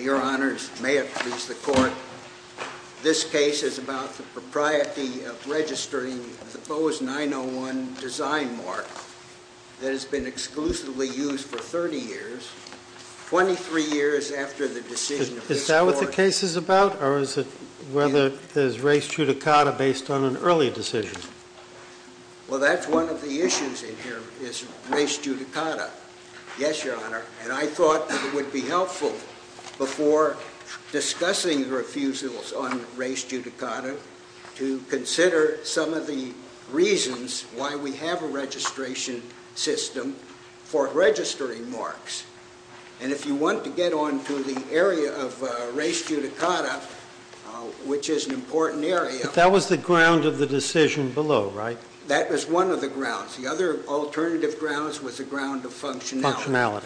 Your honors, may it please the court, this case is about the propriety of registering the Bose 901 design mark that has been exclusively used for 30 years, 23 years after the decision of this court. Is that what the case is about? Or is it whether there's res judicata based on an early decision? Well that's one of the issues in here, is res judicata. Yes, your honor, and I thought it would be helpful before discussing the refusals on res judicata to consider some of the reasons why we have a registration system for registering marks. And if you want to get on to the area of res judicata, which is an important area. That was the ground of the decision below, right? That was one of the grounds. The other alternative grounds was the ground of functionality.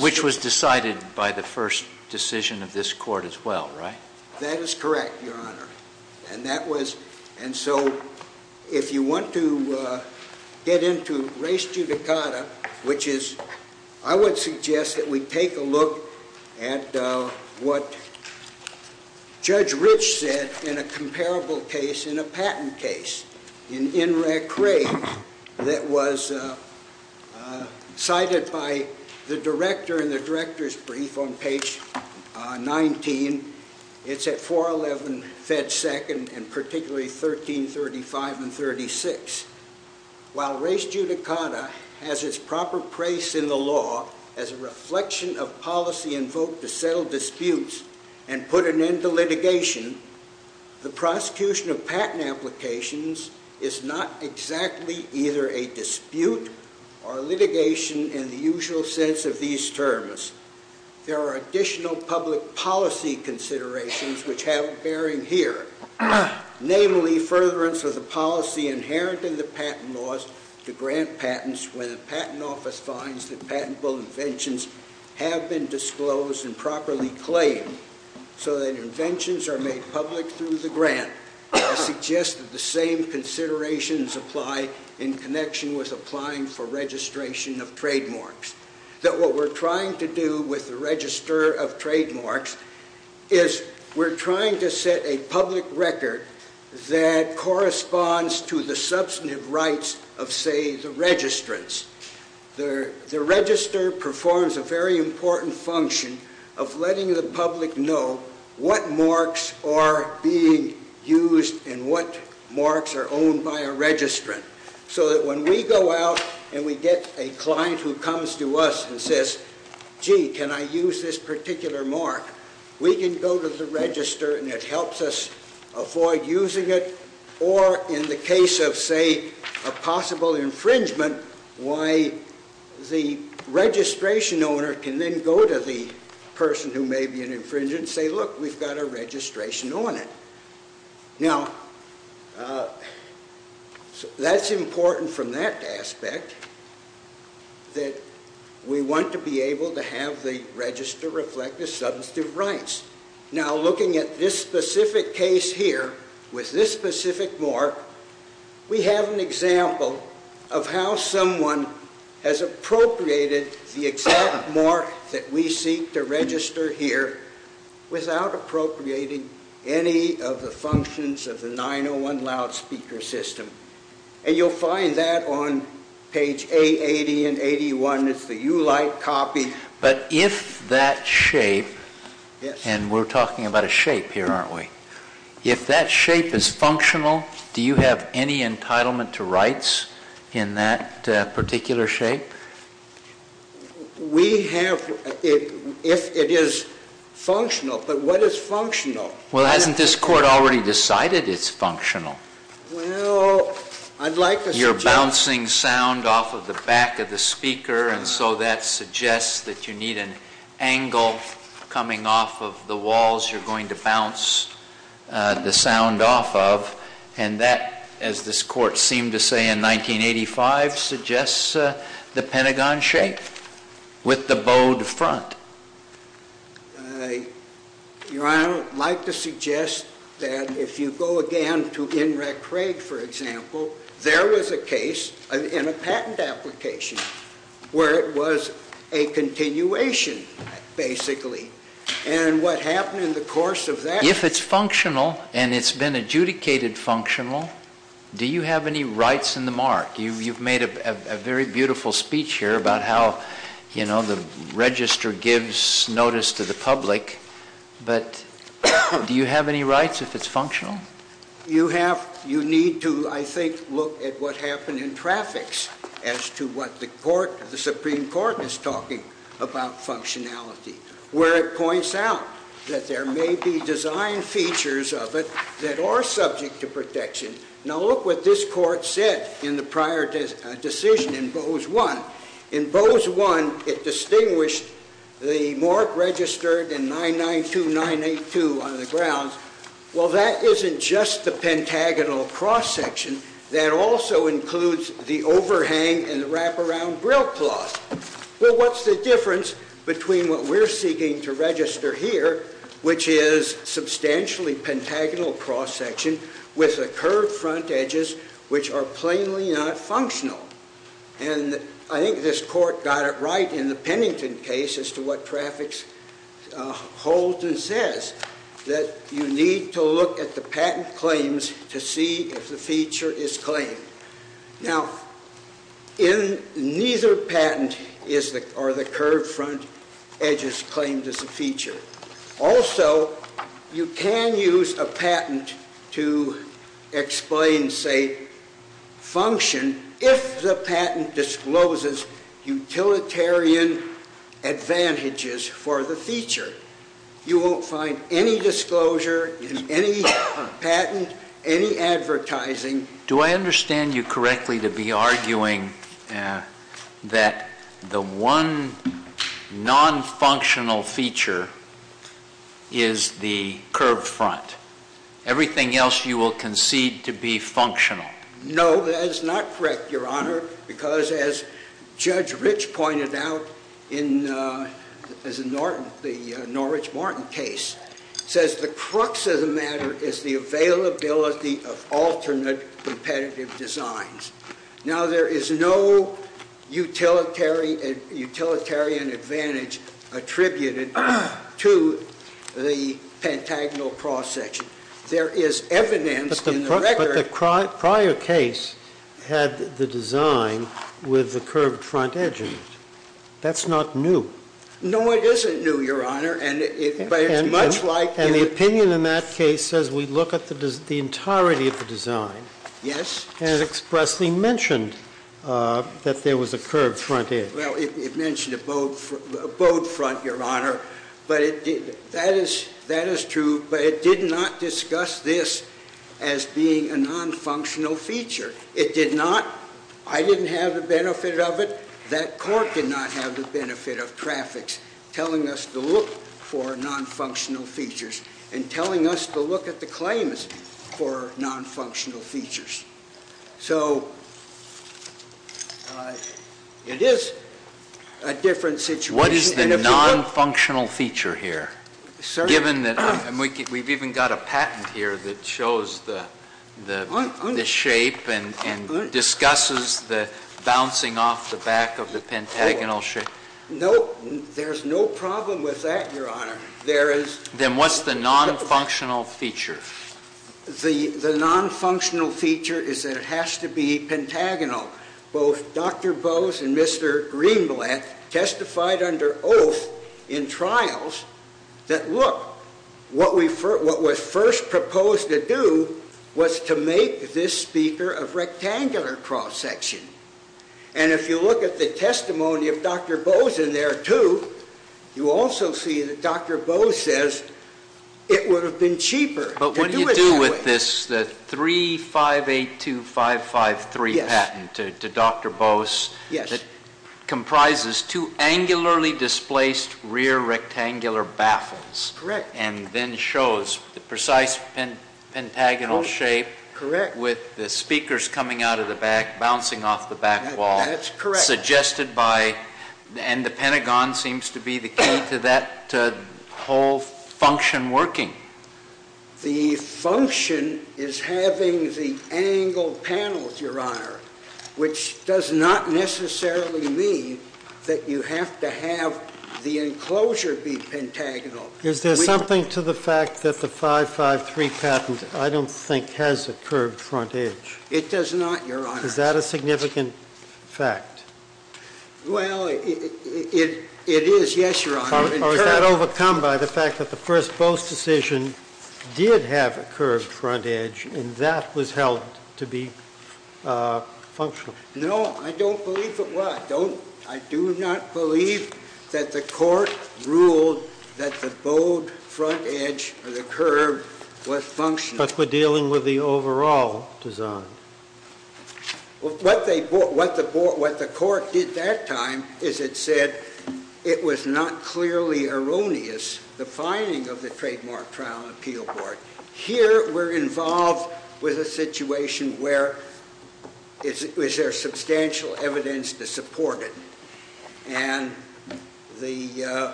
Which was decided by the first decision of this court as well, right? That is correct, your honor. And so if you want to get into res judicata, which is, I would suggest that we take a look at what Judge Rich said in a comparable case, in a patent case, in In Rec Re, that was cited by the director in the director's brief on page 19. It's at 411 Fed Second, and particularly 1335 and 36. While res judicata has its proper place in the law as a reflection of policy invoked to settle disputes and put an end to litigation, the prosecution of patent applications is not exactly either a dispute or litigation in the usual sense of these terms. There are additional public policy considerations which have bearing here, namely, furtherance of the policy inherent in the patent laws to grant patents when the patent office finds that patentable inventions have been disclosed and properly claimed, so that inventions are made public through the grant, I suggest that the same considerations apply in connection with applying for registration of trademarks. That what we're trying to do with the register of trademarks is we're trying to set a public record that corresponds to the substantive rights of, say, the registrants. The register performs a very important function of letting the public know what marks are being used and what marks are owned by a registrant, so that when we go out and we get a client who comes to us and says, gee, can I use this particular mark, we can go to the register and it helps us avoid using it, or in the case of, say, a possible infringement, why the registration owner can then go to the person who may be an infringer and say, look, we've got a registration on it. Now that's important from that aspect that we want to be able to have the register reflect the substantive rights. Now looking at this specific case here with this specific mark, we have an example of how someone has appropriated the exact mark that we seek to register here without appropriating any of the functions of the 901 loudspeaker system, and you'll find that on page A80 and 81. It's the ULITE copy. But if that shape, and we're talking about a shape here, aren't we? If that shape is functional, do you have any entitlement to rights in that particular shape? We have, if it is functional, but what is functional? Well hasn't this court already decided it's functional? Well, I'd like to suggest... The back of the speaker, and so that suggests that you need an angle coming off of the walls you're going to bounce the sound off of. And that, as this court seemed to say in 1985, suggests the Pentagon shape with the bowed front. Your Honor, I'd like to suggest that if you go again to NREC Craig, for example, there is an application where it was a continuation, basically, and what happened in the course of that... If it's functional, and it's been adjudicated functional, do you have any rights in the mark? You've made a very beautiful speech here about how the register gives notice to the public, but do you have any rights if it's functional? You have... You need to, I think, look at what happened in traffics as to what the Supreme Court is talking about functionality, where it points out that there may be design features of it that are subject to protection. Now look what this court said in the prior decision in Bose 1. In Bose 1, it distinguished the mark registered in 992982 on the grounds. Well, that isn't just the pentagonal cross-section, that also includes the overhang and the wraparound grill cloth. Well, what's the difference between what we're seeking to register here, which is substantially pentagonal cross-section with the curved front edges, which are plainly not functional? And I think this court got it right in the Pennington case as to what traffics holds and says that you need to look at the patent claims to see if the feature is claimed. Now, in neither patent are the curved front edges claimed as a feature. Also, you can use a patent to explain, say, function if the patent discloses utilitarian advantages for the feature. You won't find any disclosure in any patent, any advertising. Do I understand you correctly to be arguing that the one non-functional feature is the curved front? Everything else you will concede to be functional? No, that is not correct, Your Honor. Because as Judge Rich pointed out in the Norwich-Martin case, says the crux of the matter is the availability of alternate competitive designs. Now, there is no utilitarian advantage attributed to the pentagonal cross-section. There is evidence in the record. But the prior case had the design with the curved front edge in it. That's not new. No, it isn't new, Your Honor. And the opinion in that case says we look at the entirety of the design and it expressly mentioned that there was a curved front edge. Well, it mentioned a bowed front, Your Honor. But that is true. But it did not discuss this as being a non-functional feature. It did not. I didn't have the benefit of it. That court did not have the benefit of traffics telling us to look for non-functional features and telling us to look at the claims for non-functional features. So it is a different situation. What is the non-functional feature here, given that we've even got a patent here that shows the shape and discusses the bouncing off the back of the pentagonal shape? No, there's no problem with that, Your Honor. Then what's the non-functional feature? The non-functional feature is that it has to be pentagonal. Both Dr. Bose and Mr. Greenblatt testified under oath in trials that, look, what was first proposed to do was to make this speaker a rectangular cross-section. And if you look at the testimony of Dr. Bose in there, too, you also see that Dr. Bose says it would have been cheaper to do it that way. The 3582553 patent to Dr. Bose comprises two angularly displaced rear rectangular baffles and then shows the precise pentagonal shape with the speakers coming out of the back, bouncing off the back wall, suggested by, and the pentagon seems to be the key to that whole function working. The function is having the angled panels, Your Honor, which does not necessarily mean that you have to have the enclosure be pentagonal. Is there something to the fact that the 553 patent, I don't think, has a curved front edge? It does not, Your Honor. Is that a significant fact? Well, it is, yes, Your Honor. Or is that overcome by the fact that the first Bose decision did have a curved front edge, and that was held to be functional? No, I don't believe it was. I do not believe that the court ruled that the bowed front edge, or the curve, was functional. But we're dealing with the overall design. What the court did that time is it said it was not clearly erroneous, the finding of the Trademark Trial and Appeal Board. Here, we're involved with a situation where, is there substantial evidence to support it? And the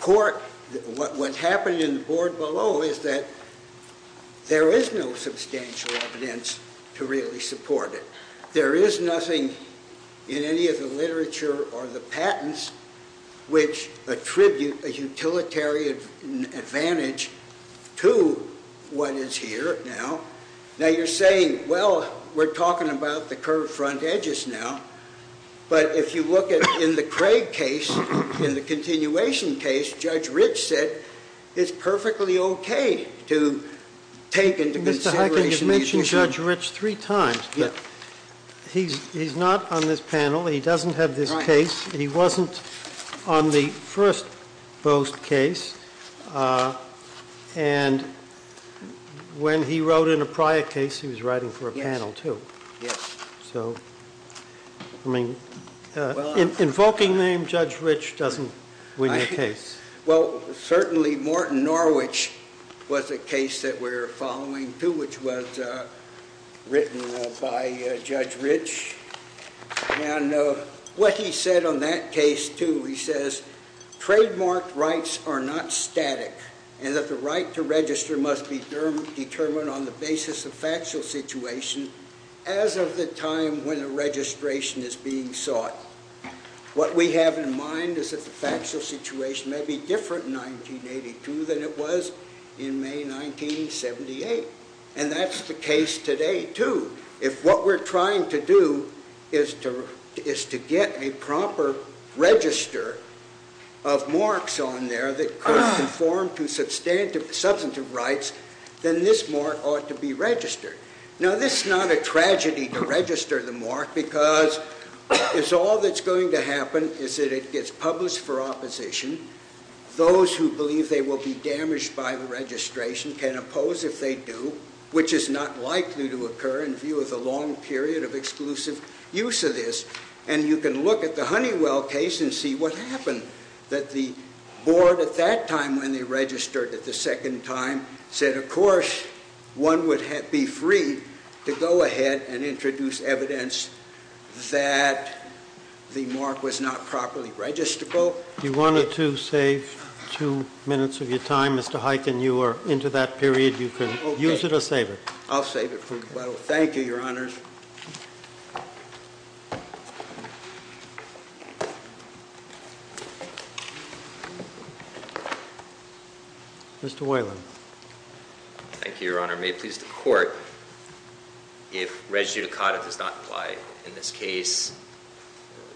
court, what happened in the board below is that there is no substantial evidence to really support it. There is nothing in any of the literature or the patents which attribute a utilitarian advantage to what is here now. Now, you're saying, well, we're talking about the curved front edges now. But if you look at, in the Craig case, in the continuation case, Judge Rich said, it's perfectly okay to take into consideration these issues. Mr. Heikkens, you've mentioned Judge Rich three times. Yeah. He's not on this panel. He doesn't have this case. He wasn't on the first Bose case. And when he wrote in a prior case, he was writing for a panel, too. Yes. So, I mean, invoking the name Judge Rich doesn't win your case. Well, certainly, Morton Norwich was a case that we're following, too, which was written by Judge Rich. And what he said on that case, too, he says, trademark rights are not static, and that the right to register must be determined on the basis of factual situation. As of the time when the registration is being sought, what we have in mind is that the factual situation may be different in 1982 than it was in May 1978. And that's the case today, too. If what we're trying to do is to get a proper register of marks on there that could conform to substantive rights, then this mark ought to be registered. Now, this is not a tragedy to register the mark, because it's all that's going to happen is that it gets published for opposition. Those who believe they will be damaged by the registration can oppose if they do, which is not likely to occur in view of the long period of exclusive use of this. And you can look at the Honeywell case and see what happened. That the board at that time, when they registered it the second time, said, of course, one would be free to go ahead and introduce evidence that the mark was not properly registrable. You wanted to save two minutes of your time, Mr. Huyken. You are into that period. You can use it or save it. I'll save it for later. Thank you, your honors. Mr. Weyland. Thank you, your honor. May it please the court, if res judicata does not apply in this case,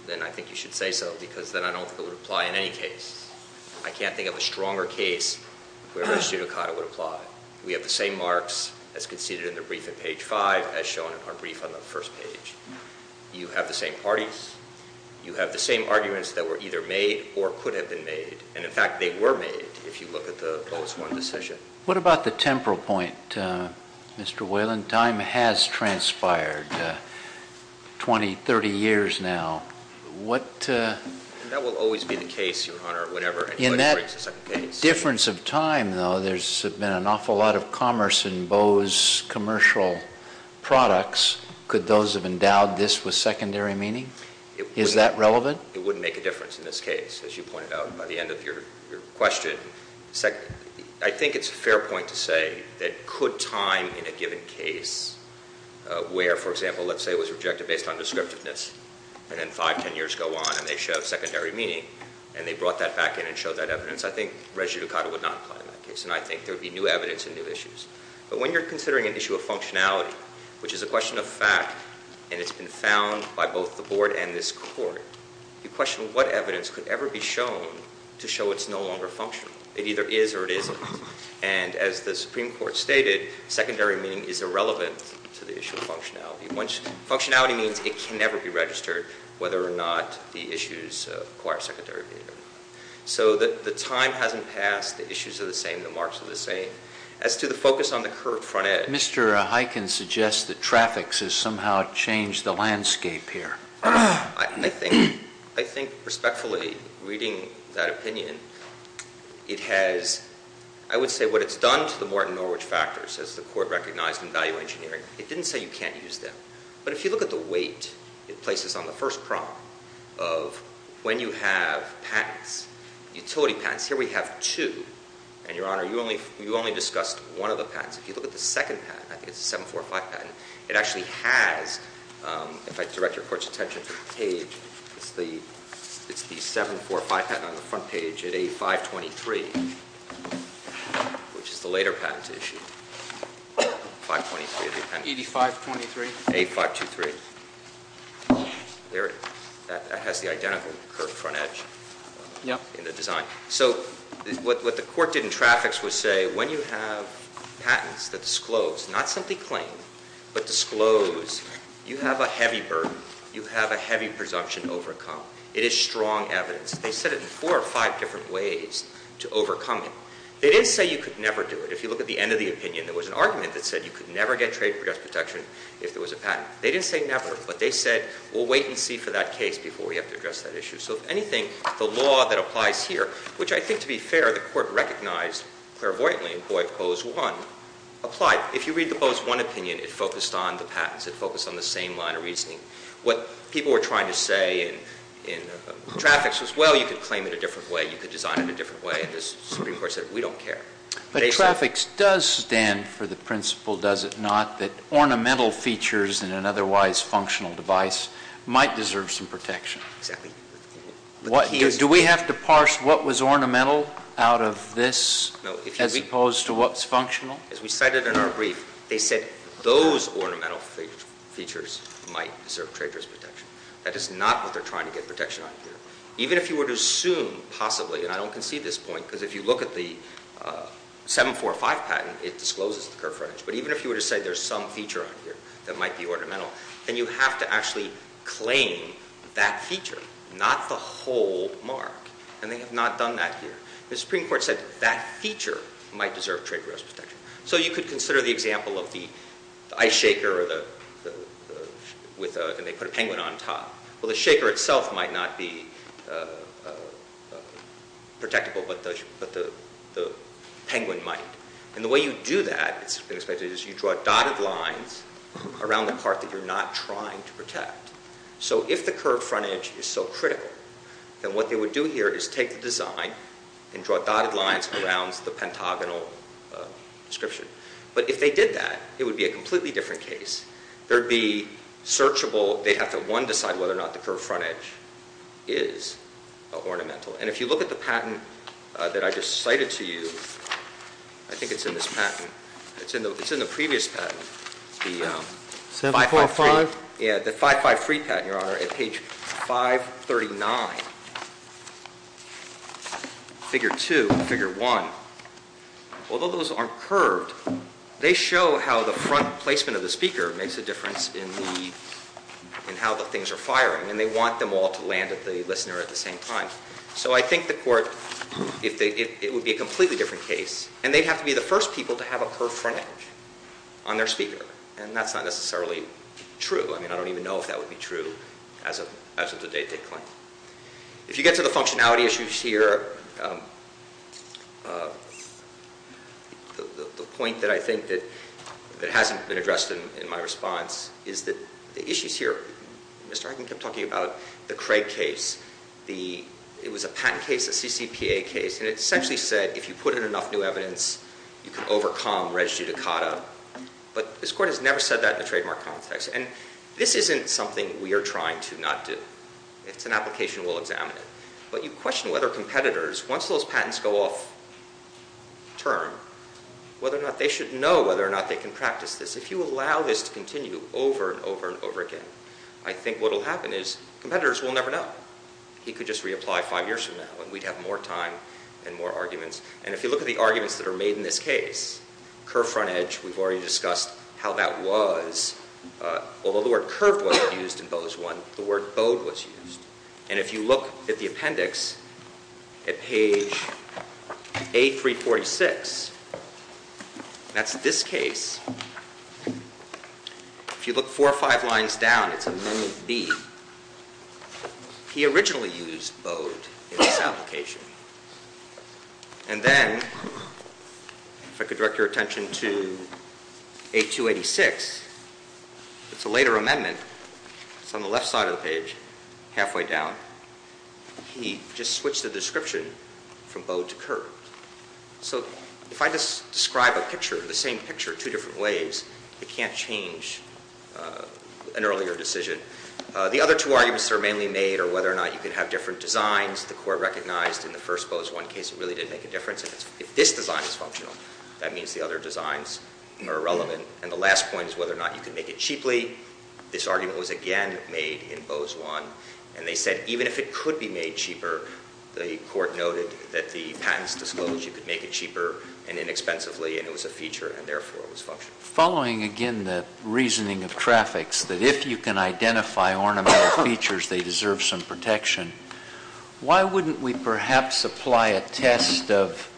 then I think you should say so, because then I don't think it would apply in any case. I can't think of a stronger case where res judicata would apply. We have the same marks as conceded in the brief in page five, as shown in our brief on the first page. You have the same parties. You have the same arguments that were either made or could have been made. And in fact, they were made, if you look at the close one decision. What about the temporal point, Mr. Weyland? Time has transpired 20, 30 years now. What- And that will always be the case, your honor, whenever anybody brings a second case. Difference of time, though, there's been an awful lot of commerce in Bose commercial products. Could those have endowed this with secondary meaning? Is that relevant? It wouldn't make a difference in this case, as you pointed out by the end of your question. I think it's a fair point to say that could time in a given case where, for example, let's say it was rejected based on descriptiveness, and then five, ten years go on and they show secondary meaning. And they brought that back in and showed that evidence. I think rejudicata would not apply in that case, and I think there would be new evidence and new issues. But when you're considering an issue of functionality, which is a question of fact, and it's been found by both the board and this court. You question what evidence could ever be shown to show it's no longer functional. It either is or it isn't. And as the Supreme Court stated, secondary meaning is irrelevant to the issue of functionality. Functionality means it can never be registered, whether or not the issues require secondary meaning or not. So the time hasn't passed, the issues are the same, the marks are the same. As to the focus on the curved front edge- Mr. Huyken suggests that traffics has somehow changed the landscape here. I think respectfully reading that opinion, it has, I would say what it's done to the Morton Norwich factors, as the court recognized in value engineering, it didn't say you can't use them. But if you look at the weight it places on the first prong of when you have patents, utility patents. Here we have two, and your honor, you only discussed one of the patents. If you look at the second patent, I think it's a 745 patent, it actually has, if I direct your court's attention to the page, it's the 745 patent on the front page at A523, which is the later patent issue, 523 of the appendix. 8523. 8523. There it is, that has the identical curved front edge in the design. So what the court did in traffics was say, when you have patents that disclose, not simply claim, but disclose, you have a heavy burden, you have a heavy presumption to overcome. It is strong evidence. They said it in four or five different ways to overcome it. They didn't say you could never do it. If you look at the end of the opinion, there was an argument that said you could never get trade protection if there was a patent. They didn't say never, but they said, we'll wait and see for that case before we have to address that issue. So if anything, the law that applies here, which I think to be fair, the court recognized, clairvoyantly employed pose one, applied. If you read the pose one opinion, it focused on the patents, it focused on the same line of reasoning. What people were trying to say in traffics was, well, you could claim it a different way, you could design it a different way, and the Supreme Court said, we don't care. But traffics does stand for the principle, does it not, that ornamental features in an otherwise functional device might deserve some protection. Exactly. Do we have to parse what was ornamental out of this as opposed to what's functional? As we cited in our brief, they said those ornamental features might serve trade risk protection. That is not what they're trying to get protection on here. Even if you were to assume, possibly, and I don't concede this point, because if you look at the 745 patent, it discloses the curved frontage. But even if you were to say there's some feature on here that might be ornamental, then you have to actually claim that feature, not the whole mark. And they have not done that here. The Supreme Court said that feature might deserve trade risk protection. So you could consider the example of the ice shaker with a, and they put a penguin on top. Well, the shaker itself might not be protectable, but the penguin might. And the way you do that, it's been expected, is you draw dotted lines around the part that you're not trying to protect. So if the curved frontage is so critical, then what they would do here is take the design and draw dotted lines around the pentagonal description. But if they did that, it would be a completely different case. There'd be searchable, they'd have to, one, decide whether or not the curved frontage is ornamental. And if you look at the patent that I just cited to you, I think it's in this patent. It's in the previous patent, the 5-5-3, yeah, the 5-5-3 patent, Your Honor, at page 539, figure two, figure one, although those aren't curved, they show how the front placement of the speaker makes a difference in how the things are firing. And they want them all to land at the listener at the same time. So I think the court, it would be a completely different case. And they'd have to be the first people to have a curved frontage on their speaker. And that's not necessarily true. I mean, I don't even know if that would be true as of the date they claim. If you get to the functionality issues here, the point that I think that hasn't been addressed in my response is that the issues here, Mr. Harkin kept talking about the Craig case, it was a patent case, a CCPA case. And it essentially said, if you put in enough new evidence, you can overcome res judicata. But this court has never said that in the trademark context. And this isn't something we are trying to not do. It's an application, we'll examine it. But you question whether competitors, once those patents go off term, whether or not, they should know whether or not they can practice this. If you allow this to continue over and over and over again, I think what'll happen is competitors will never know. He could just reapply five years from now, and we'd have more time and more arguments. And if you look at the arguments that are made in this case, curved frontage, we've already discussed how that was. Although the word curved was used in Bo's one, the word bowed was used. And if you look at the appendix at page A346, that's this case. If you look four or five lines down, it's a menu B. He originally used bowed in this application. And then, if I could direct your attention to A286, it's a later amendment, it's on the left side of the page, halfway down. He just switched the description from bowed to curved. So if I just describe a picture, the same picture two different ways, it can't change an earlier decision. The other two arguments that are mainly made are whether or not you can have different designs. The court recognized in the first Bo's one case it really did make a difference. If this design is functional, that means the other designs are irrelevant. And the last point is whether or not you can make it cheaply. This argument was again made in Bo's one. And they said even if it could be made cheaper, the court noted that the patents disclosed you could make it cheaper and inexpensively and it was a feature and therefore it was functional. Following again the reasoning of traffics that if you can identify ornamental features, they deserve some protection. Why wouldn't we perhaps apply a test of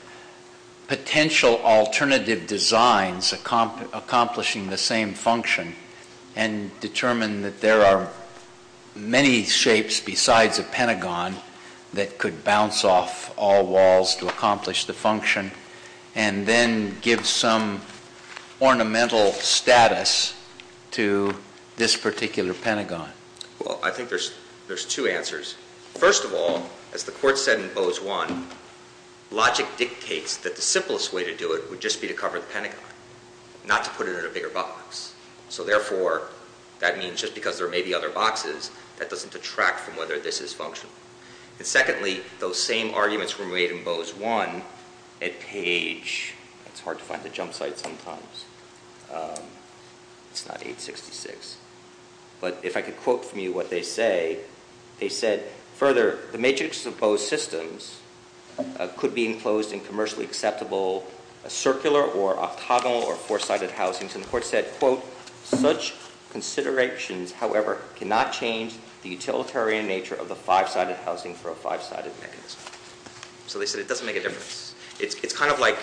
potential alternative designs accomplishing the same function and determine that there are many shapes besides a pentagon that could bounce off all walls to accomplish the function and then give some ornamental status to this particular pentagon? Well, I think there's two answers. First of all, as the court said in Bo's one, logic dictates that the simplest way to do it would just be to cover the pentagon, not to put it in a bigger box. So therefore, that means just because there may be other boxes, that doesn't detract from whether this is functional. And secondly, those same arguments were made in Bo's one at Page. It's hard to find the jump site sometimes. It's not 866. But if I could quote from you what they say, they said, further, the matrix of Bo's systems could be enclosed in commercially acceptable circular or octagonal or four-sided housings. And the court said, quote, such considerations, however, cannot change the utilitarian nature of the five-sided housing for a five-sided mechanism. So they said it doesn't make a difference. It's kind of like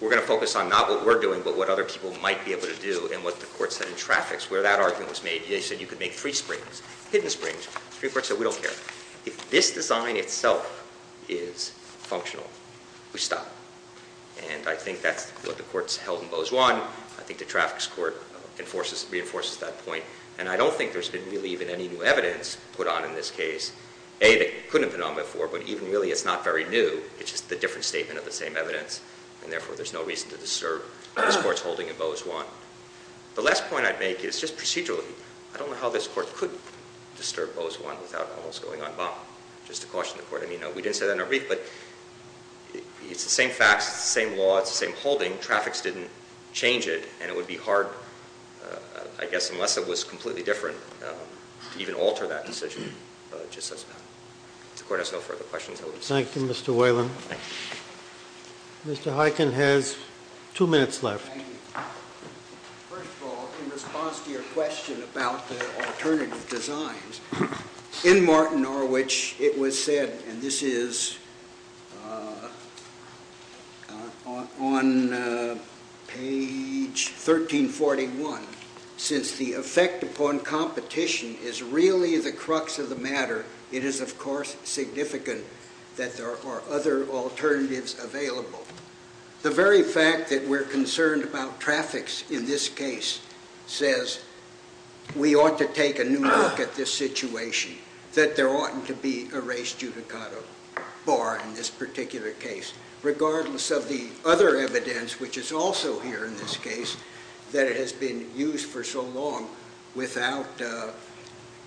we're going to focus on not what we're doing, but what other people might be able to do. And what the court said in traffics, where that argument was made, they said you could make three springs, hidden springs, three parts that we don't care. If this design itself is functional, we stop. And I think that's what the court's held in Bo's one. I think the traffics court reinforces that point. And I don't think there's been really even any new evidence put on in this case. A, that couldn't have been on before, but even really, it's not very new. It's just a different statement of the same evidence. And therefore, there's no reason to disturb this court's holding in Bo's one. The last point I'd make is just procedurally, I don't know how this court could disturb Bo's one without all this going on Bo. Just to caution the court, I mean, we didn't say that in our brief, but it's the same facts, it's the same law, it's the same holding. Traffics didn't change it, and it would be hard, I guess, unless it was completely different, to even alter that decision just as bad. If the court has no further questions, I will be seated. Thank you, Mr. Whalen. Mr. Heiken has two minutes left. Thank you. First of all, in response to your question about the alternative designs. In Martin Norwich, it was said, and this is on page 1341, since the effect upon competition is really the crux of the matter. It is, of course, significant that there are other alternatives available. The very fact that we're concerned about traffics in this case says, we ought to take a new look at this situation, that there oughtn't to be a race judicata bar in this particular case. Regardless of the other evidence, which is also here in this case, that it has been used for so long without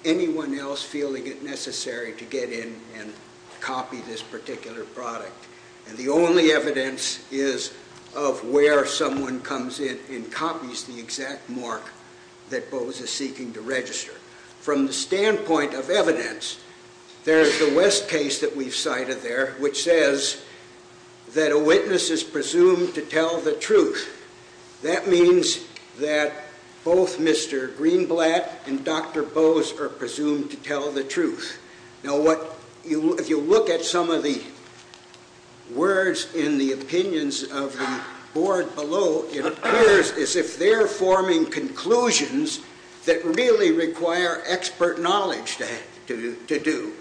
anyone else feeling it necessary to get in and copy this particular product, and the only evidence is of where someone comes in and copies the exact mark that Boze is seeking to register. From the standpoint of evidence, there's the West case that we've cited there, which says that a witness is presumed to tell the truth. That means that both Mr. Greenblatt and Dr. Boze are presumed to tell the truth. Now, if you look at some of the words in the opinions of the board below, it appears as if they're forming conclusions that really require expert knowledge to do.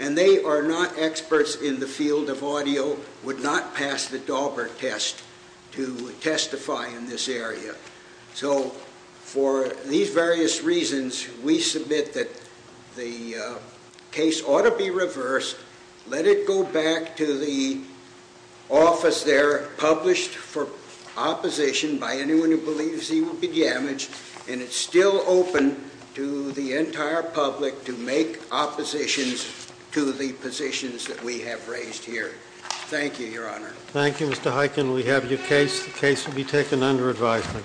And they are not experts in the field of audio, would not pass the Daubert test to testify in this area. So for these various reasons, we submit that the case ought to be reversed. Let it go back to the office there published for opposition by anyone who believes he will be damaged. And it's still open to the entire public to make oppositions to the positions that we have raised here. Thank you, Your Honor. Thank you, Mr. Hyken. We have your case. The case will be taken under advisement.